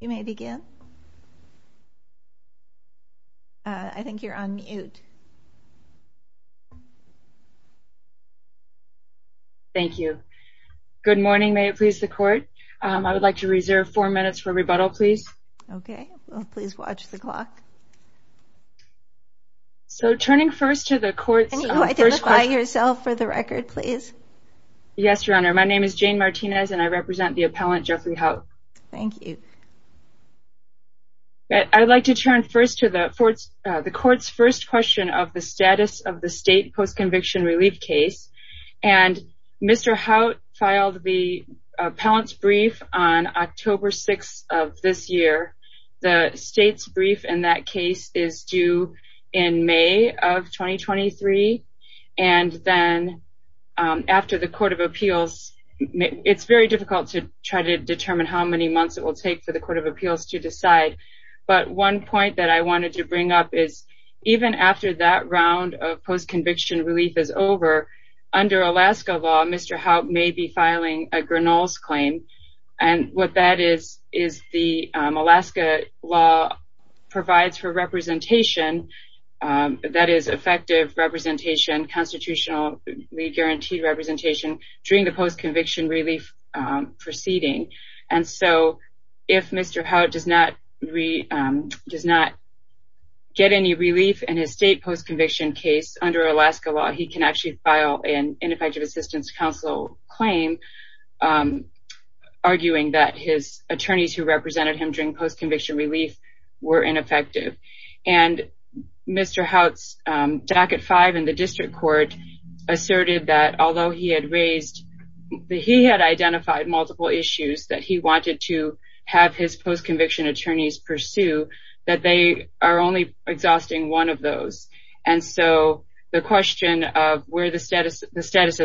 Good morning, may it please the Court. I would like to reserve four minutes for rebuttal, please. Jane Martinez My name is Jane Martinez and I represent the appellant Jeffrey Hout. I would like to turn first to the Court's first question of the status of the state post-conviction relief case. Mr. Hout filed the appellant's brief on October 6th of this year. The state's brief in that case is due in May of 2023 and then after the Court of Appeals, it's very difficult to try to determine how many months it will take for the Court of Appeals to decide. But one point that I wanted to bring up is even after that round of post-conviction relief is over, under Alaska law, Mr. Hout may be that is the Alaska law provides for representation, that is effective representation, constitutionally guaranteed representation during the post-conviction relief proceeding. And so if Mr. Hout does not get any relief in his state post-conviction case under Alaska law, he can actually file an ineffective assistance counsel claim, arguing that his attorneys who represented him during post-conviction relief were ineffective. And Mr. Hout's jacket five in the district court asserted that although he had raised that he had identified multiple issues that he wanted to have his post-conviction attorneys pursue, that they are only exhausting one of those. And so the question of where the status of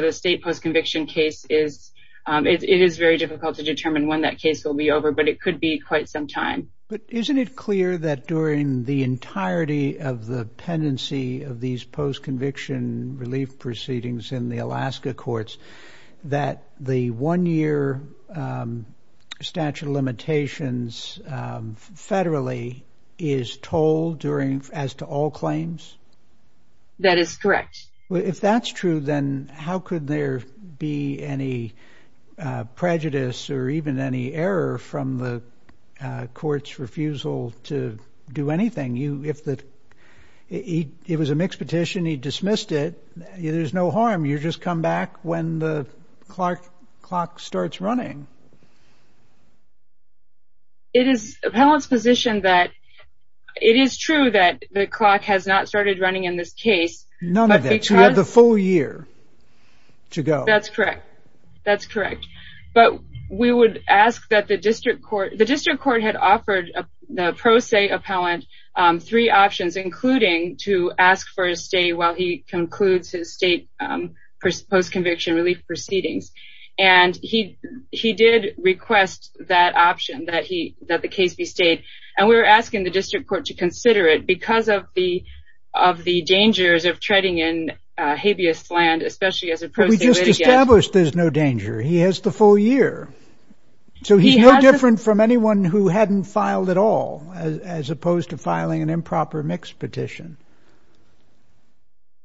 the state post-conviction case is, it is very difficult to determine when that case will be over, but it could be quite some time. But isn't it clear that during the entirety of the pendency of these post-conviction relief proceedings in the Alaska courts, that the one-year statute of limitations federally is told as to all claims? That is correct. If that's true, then how could there be any prejudice or even any error from the court's refusal to do anything? If it was a mixed petition, he dismissed it, there's no harm. You just come back when the clock starts running. It is true that the clock has not started running in this case. None of that. You have the full year to go. That's correct. That's correct. But we would ask that the district court, the district court had offered the pro se appellant three options, including to ask for a stay while he concludes his state post-conviction relief proceedings. And he did request that option, that the case be stayed, and we were asking the district court to consider it because of the dangers of treading in habeas land, especially as a pro se litigant. But we just established there's no danger. He has the full year. So he's no different from anyone who hadn't filed at all, as opposed to filing an improper mixed petition.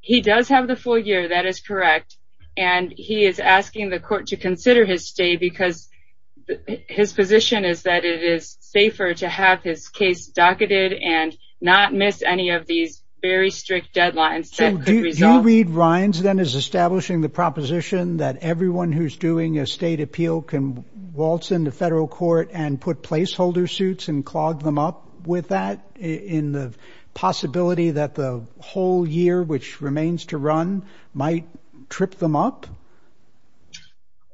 He does have the full year. That is correct. And he is asking the court to consider his stay because his position is that it is safer to have his case docketed and not miss any of these very strict deadlines. Do you read Rines then as establishing the proposition that everyone who's doing a state appeal can waltz into federal court and put placeholder suits and clog them up with that in the possibility that the whole year, which remains to run, might trip them up?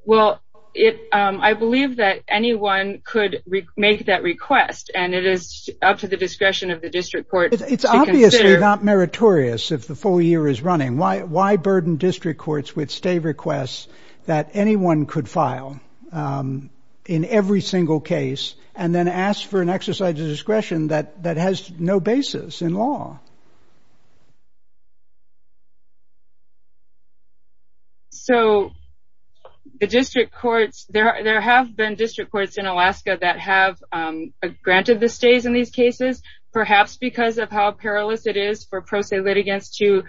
Well, I believe that anyone could make that request, and it is up to the discretion of the district court. It's obviously not meritorious if the full year is running. Why burden district courts with stay requests that anyone could file in every single case and then ask for an exercise of discretion that has no basis in law? So the district courts, there have been district courts in Alaska that have granted the stays in these cases, perhaps because of how perilous it is for pro se litigants to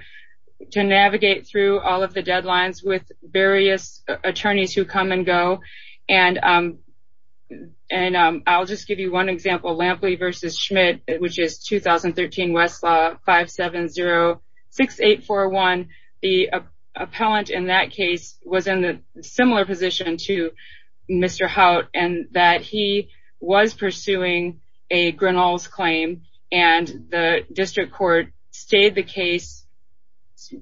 navigate through all of the deadlines with various attorneys who come and go. And I'll just give you one example, Lampley v. Schmidt, which is 2013 Westlaw 570-6841. The appellant in that case was in a similar position to Mr. Haut in that he was pursuing a Grinnell's claim, and the district court stayed the case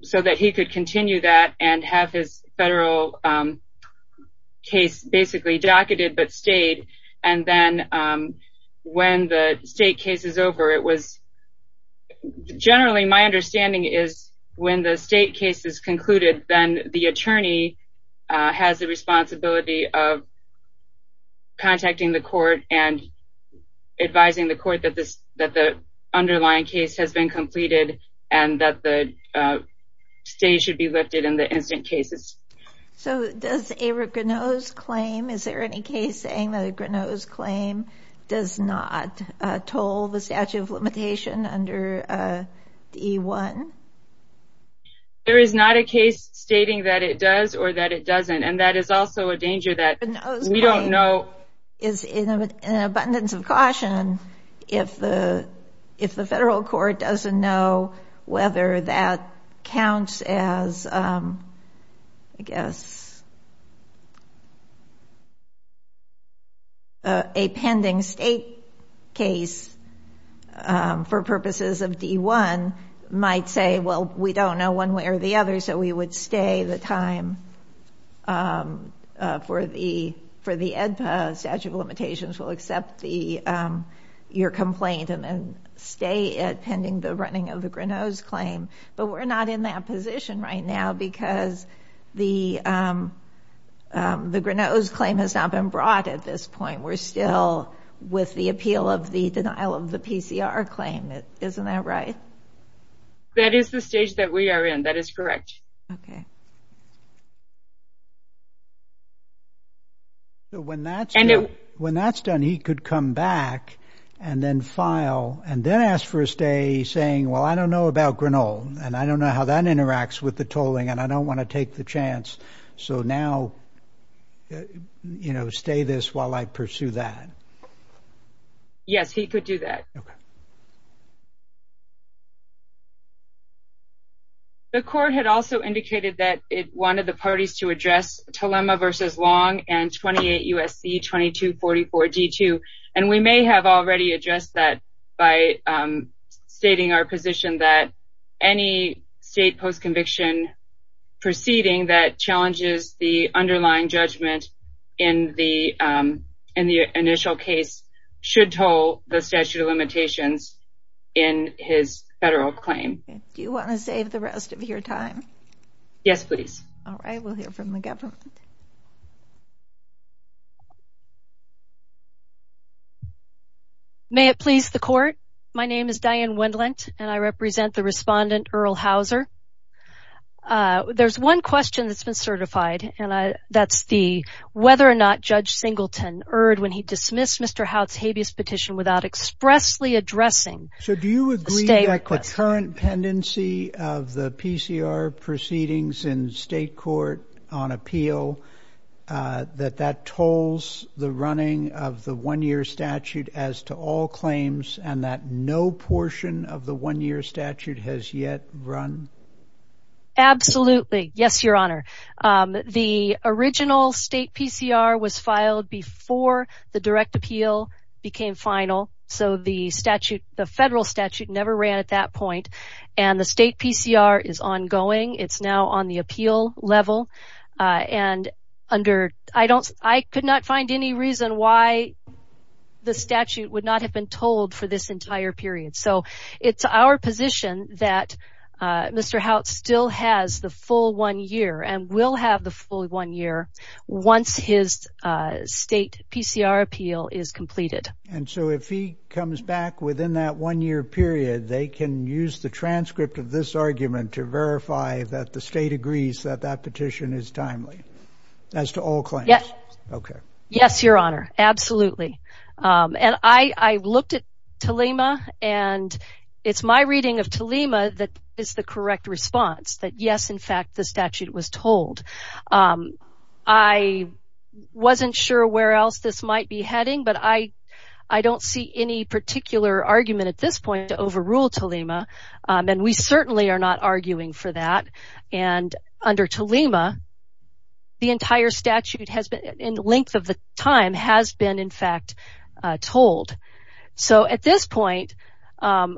so that he could continue that and have his federal case basically docketed but stayed. And then when the state case is over, it was generally my understanding is when the state case is concluded, then the attorney has the responsibility of contacting the court and advising the court that the underlying case has been completed and that the stay should be lifted in the incident cases. So does a Grinnell's claim, is there any case saying that a Grinnell's claim does not toll the statute of limitation under D.E. 1? There is not a case stating that it does or that it doesn't, and that is also a danger that we don't know. A Grinnell's claim is in abundance of caution if the federal court doesn't know whether that counts as, I guess, a pending state case for purposes of D.E. 1 might say, well, we don't know one way or the other, so we would stay the time for the EDPA statute of limitations. We'll accept your complaint and stay it pending the running of the Grinnell's claim, but we're not in that position right now because the Grinnell's claim has not been brought at this point. We're still with the appeal of the denial of the PCR claim, isn't that right? That is the stage that we are in, that is correct. Okay. When that's done, he could come back and then file and then ask for a stay saying, well, I don't know about Grinnell, and I don't know how that interacts with the tolling, and I don't want to take the chance, so now, you know, stay this while I pursue that. Yes, he could do that. Okay. The court had also indicated that it wanted the parties to address Telema v. Long and 28 U.S.C. 2244-D2, and we may have already addressed that by stating our position that any state postconviction proceeding that challenges the underlying judgment in the initial case should toll the statute of limitations in his federal claim. Do you want to save the rest of your time? Yes, please. All right, we'll hear from the government. May it please the court? My name is Diane Wendlandt, and I represent the respondent, Earl Hauser. There's one question that's been certified, and that's the whether or not Judge Singleton erred when he dismissed Mr. Houtt's habeas petition without expressly addressing a state request. So do you agree that the current pendency of the PCR proceedings in state court on appeal, that that tolls the running of the one-year statute as to all claims, and that no portion of the one-year statute has yet run? Absolutely. Yes, Your Honor. The original state PCR was filed before the direct appeal became final, so the federal statute never ran at that point, and the state PCR is ongoing. It's now on the appeal level, and I could not find any reason why the statute would not have been tolled for this entire period. So it's our position that Mr. Houtt still has the full one year, and will have the full one year, once his state PCR appeal is completed. And so if he comes back within that one-year period, they can use the transcript of this argument to verify that the state agrees that that petition is timely, as to all claims? Yes. Yes, Your Honor, absolutely. And I looked at TLEMA, and it's my reading of TLEMA that is the correct response, that yes, in fact, the statute was tolled. I wasn't sure where else this might be heading, but I don't see any particular argument at this point to overrule TLEMA, and we certainly are not arguing for that. And under TLEMA, the entire statute, in the length of the time, has been, in fact, tolled. So at this point, I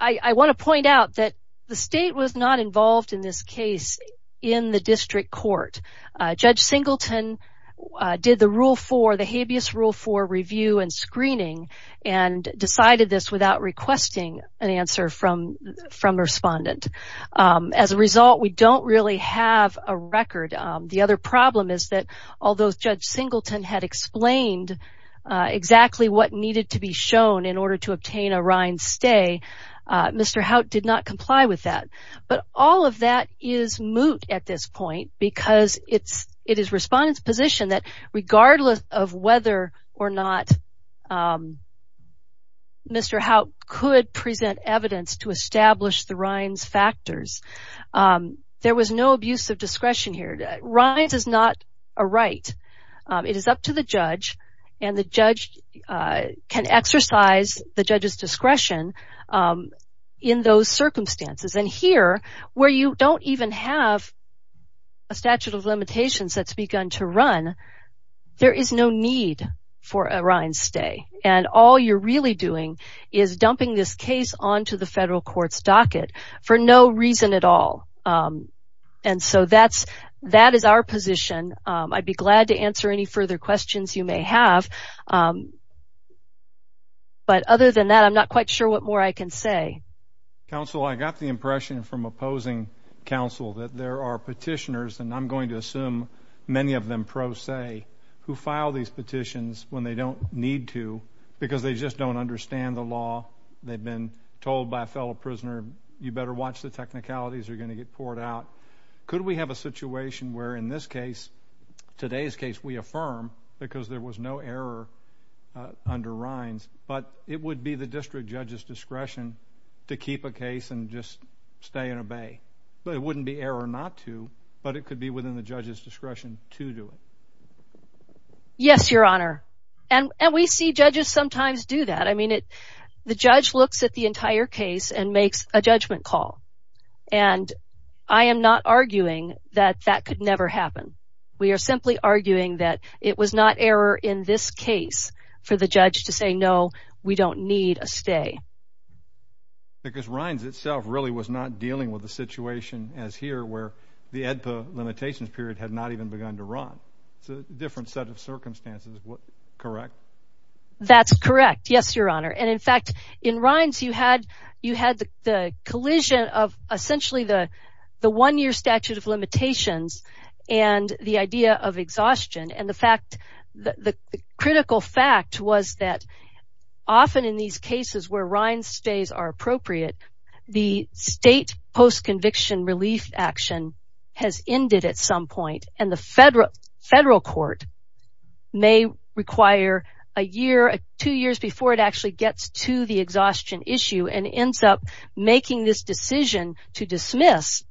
want to point out that the state was not involved in this case in the district court. Judge Singleton did the Habeas Rule 4 review and screening, and decided this without requesting an answer from a respondent. As a result, we don't really have a record. The other problem is that, although Judge Singleton had explained exactly what needed to be shown in order to obtain a RINES stay, Mr. Haut did not comply with that. But all of that is moot at this point, because it is respondent's position that, regardless of whether or not Mr. Haut could present evidence to establish the RINES factors, there was no abuse of discretion here. RINES is not a right. It is up to the judge, and the judge can exercise the judge's discretion in those circumstances. And here, where you don't even have a statute of limitations that's begun to run, there is no need for a RINES stay. And all you're really doing is dumping this case onto the federal court's docket for no reason at all. And so that is our position. I'd be glad to answer any further questions you may have. But other than that, I'm not quite sure what more I can say. Counsel? Counsel, I got the impression from opposing counsel that there are petitioners, and I'm going to assume many of them pro se, who file these petitions when they don't need to because they just don't understand the law. They've been told by a fellow prisoner, you better watch the technicalities or you're going to get poured out. Could we have a situation where, in this case, today's case, we affirm, because there was no error under RINES, but it would be the district judge's discretion to keep a case and just stay and obey? It wouldn't be error not to, but it could be within the judge's discretion to do it. Yes, Your Honor. And we see judges sometimes do that. I mean, the judge looks at the entire case and makes a judgment call. And I am not arguing that that could never happen. We are simply arguing that it was not error in this case for the judge to say, no, we don't need a stay. Because RINES itself really was not dealing with a situation as here where the EDPA limitations period had not even begun to run. It's a different set of circumstances, correct? That's correct, yes, Your Honor. And in fact, in RINES, you had the collision of essentially the one-year statute of limitations and the idea of exhaustion. And the fact, the critical fact was that often in these cases where RINES stays are appropriate, the state post-conviction relief action has ended at some point. And the federal court may require a year, two years before it actually gets to the exhaustion issue and ends up making this decision to dismiss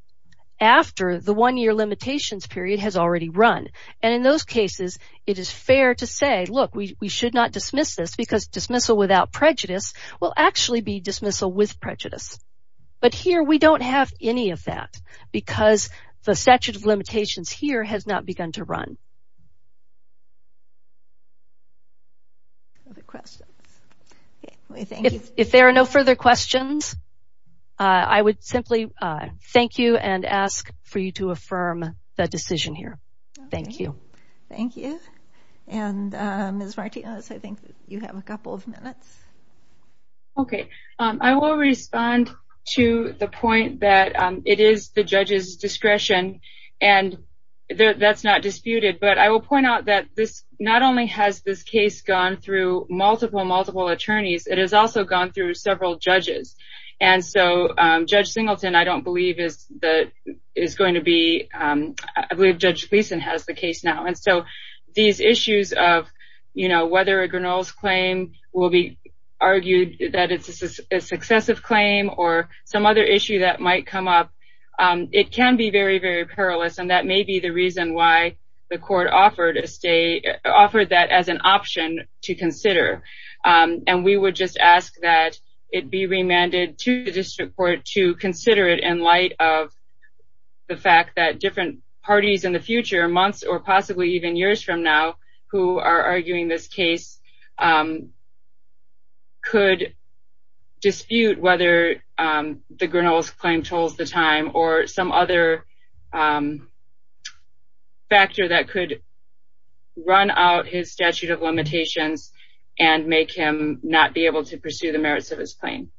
after the one-year limitations period has already run. And in those cases, it is fair to say, look, we should not dismiss this because dismissal without prejudice will actually be dismissal with prejudice. But here we don't have any of that because the statute of limitations here has not begun to run. Other questions? If there are no further questions, I would simply thank you and ask for you to affirm the decision here. Thank you. Thank you. And Ms. Martinez, I think you have a couple of minutes. Okay. I will respond to the point that it is the judge's discretion and that's not disputed. But I will point out that this not only has this case gone through multiple, multiple attorneys, it has also gone through several judges. And so Judge Singleton, I don't believe is going to be, I believe Judge Gleason has the case now. And so these issues of whether a Grinnell's claim will be argued that it's a successive claim or some other issue that might come up, it can be very, very perilous. And that may be the reason why the court offered that as an option to consider. And we would just ask that it be remanded to the district court to consider it in light of the fact that different parties in the future, months or possibly even years from now, who are arguing this case could dispute whether the Grinnell's claim tolls the time or some other factor that could run out his statute of limitations and make him not be able to pursue the merits of his claim.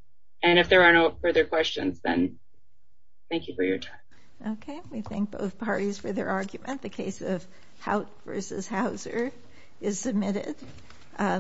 And if there are no further questions, then thank you for your time. Okay. We thank both parties for their argument. The case of Hout v. Hauser is submitted.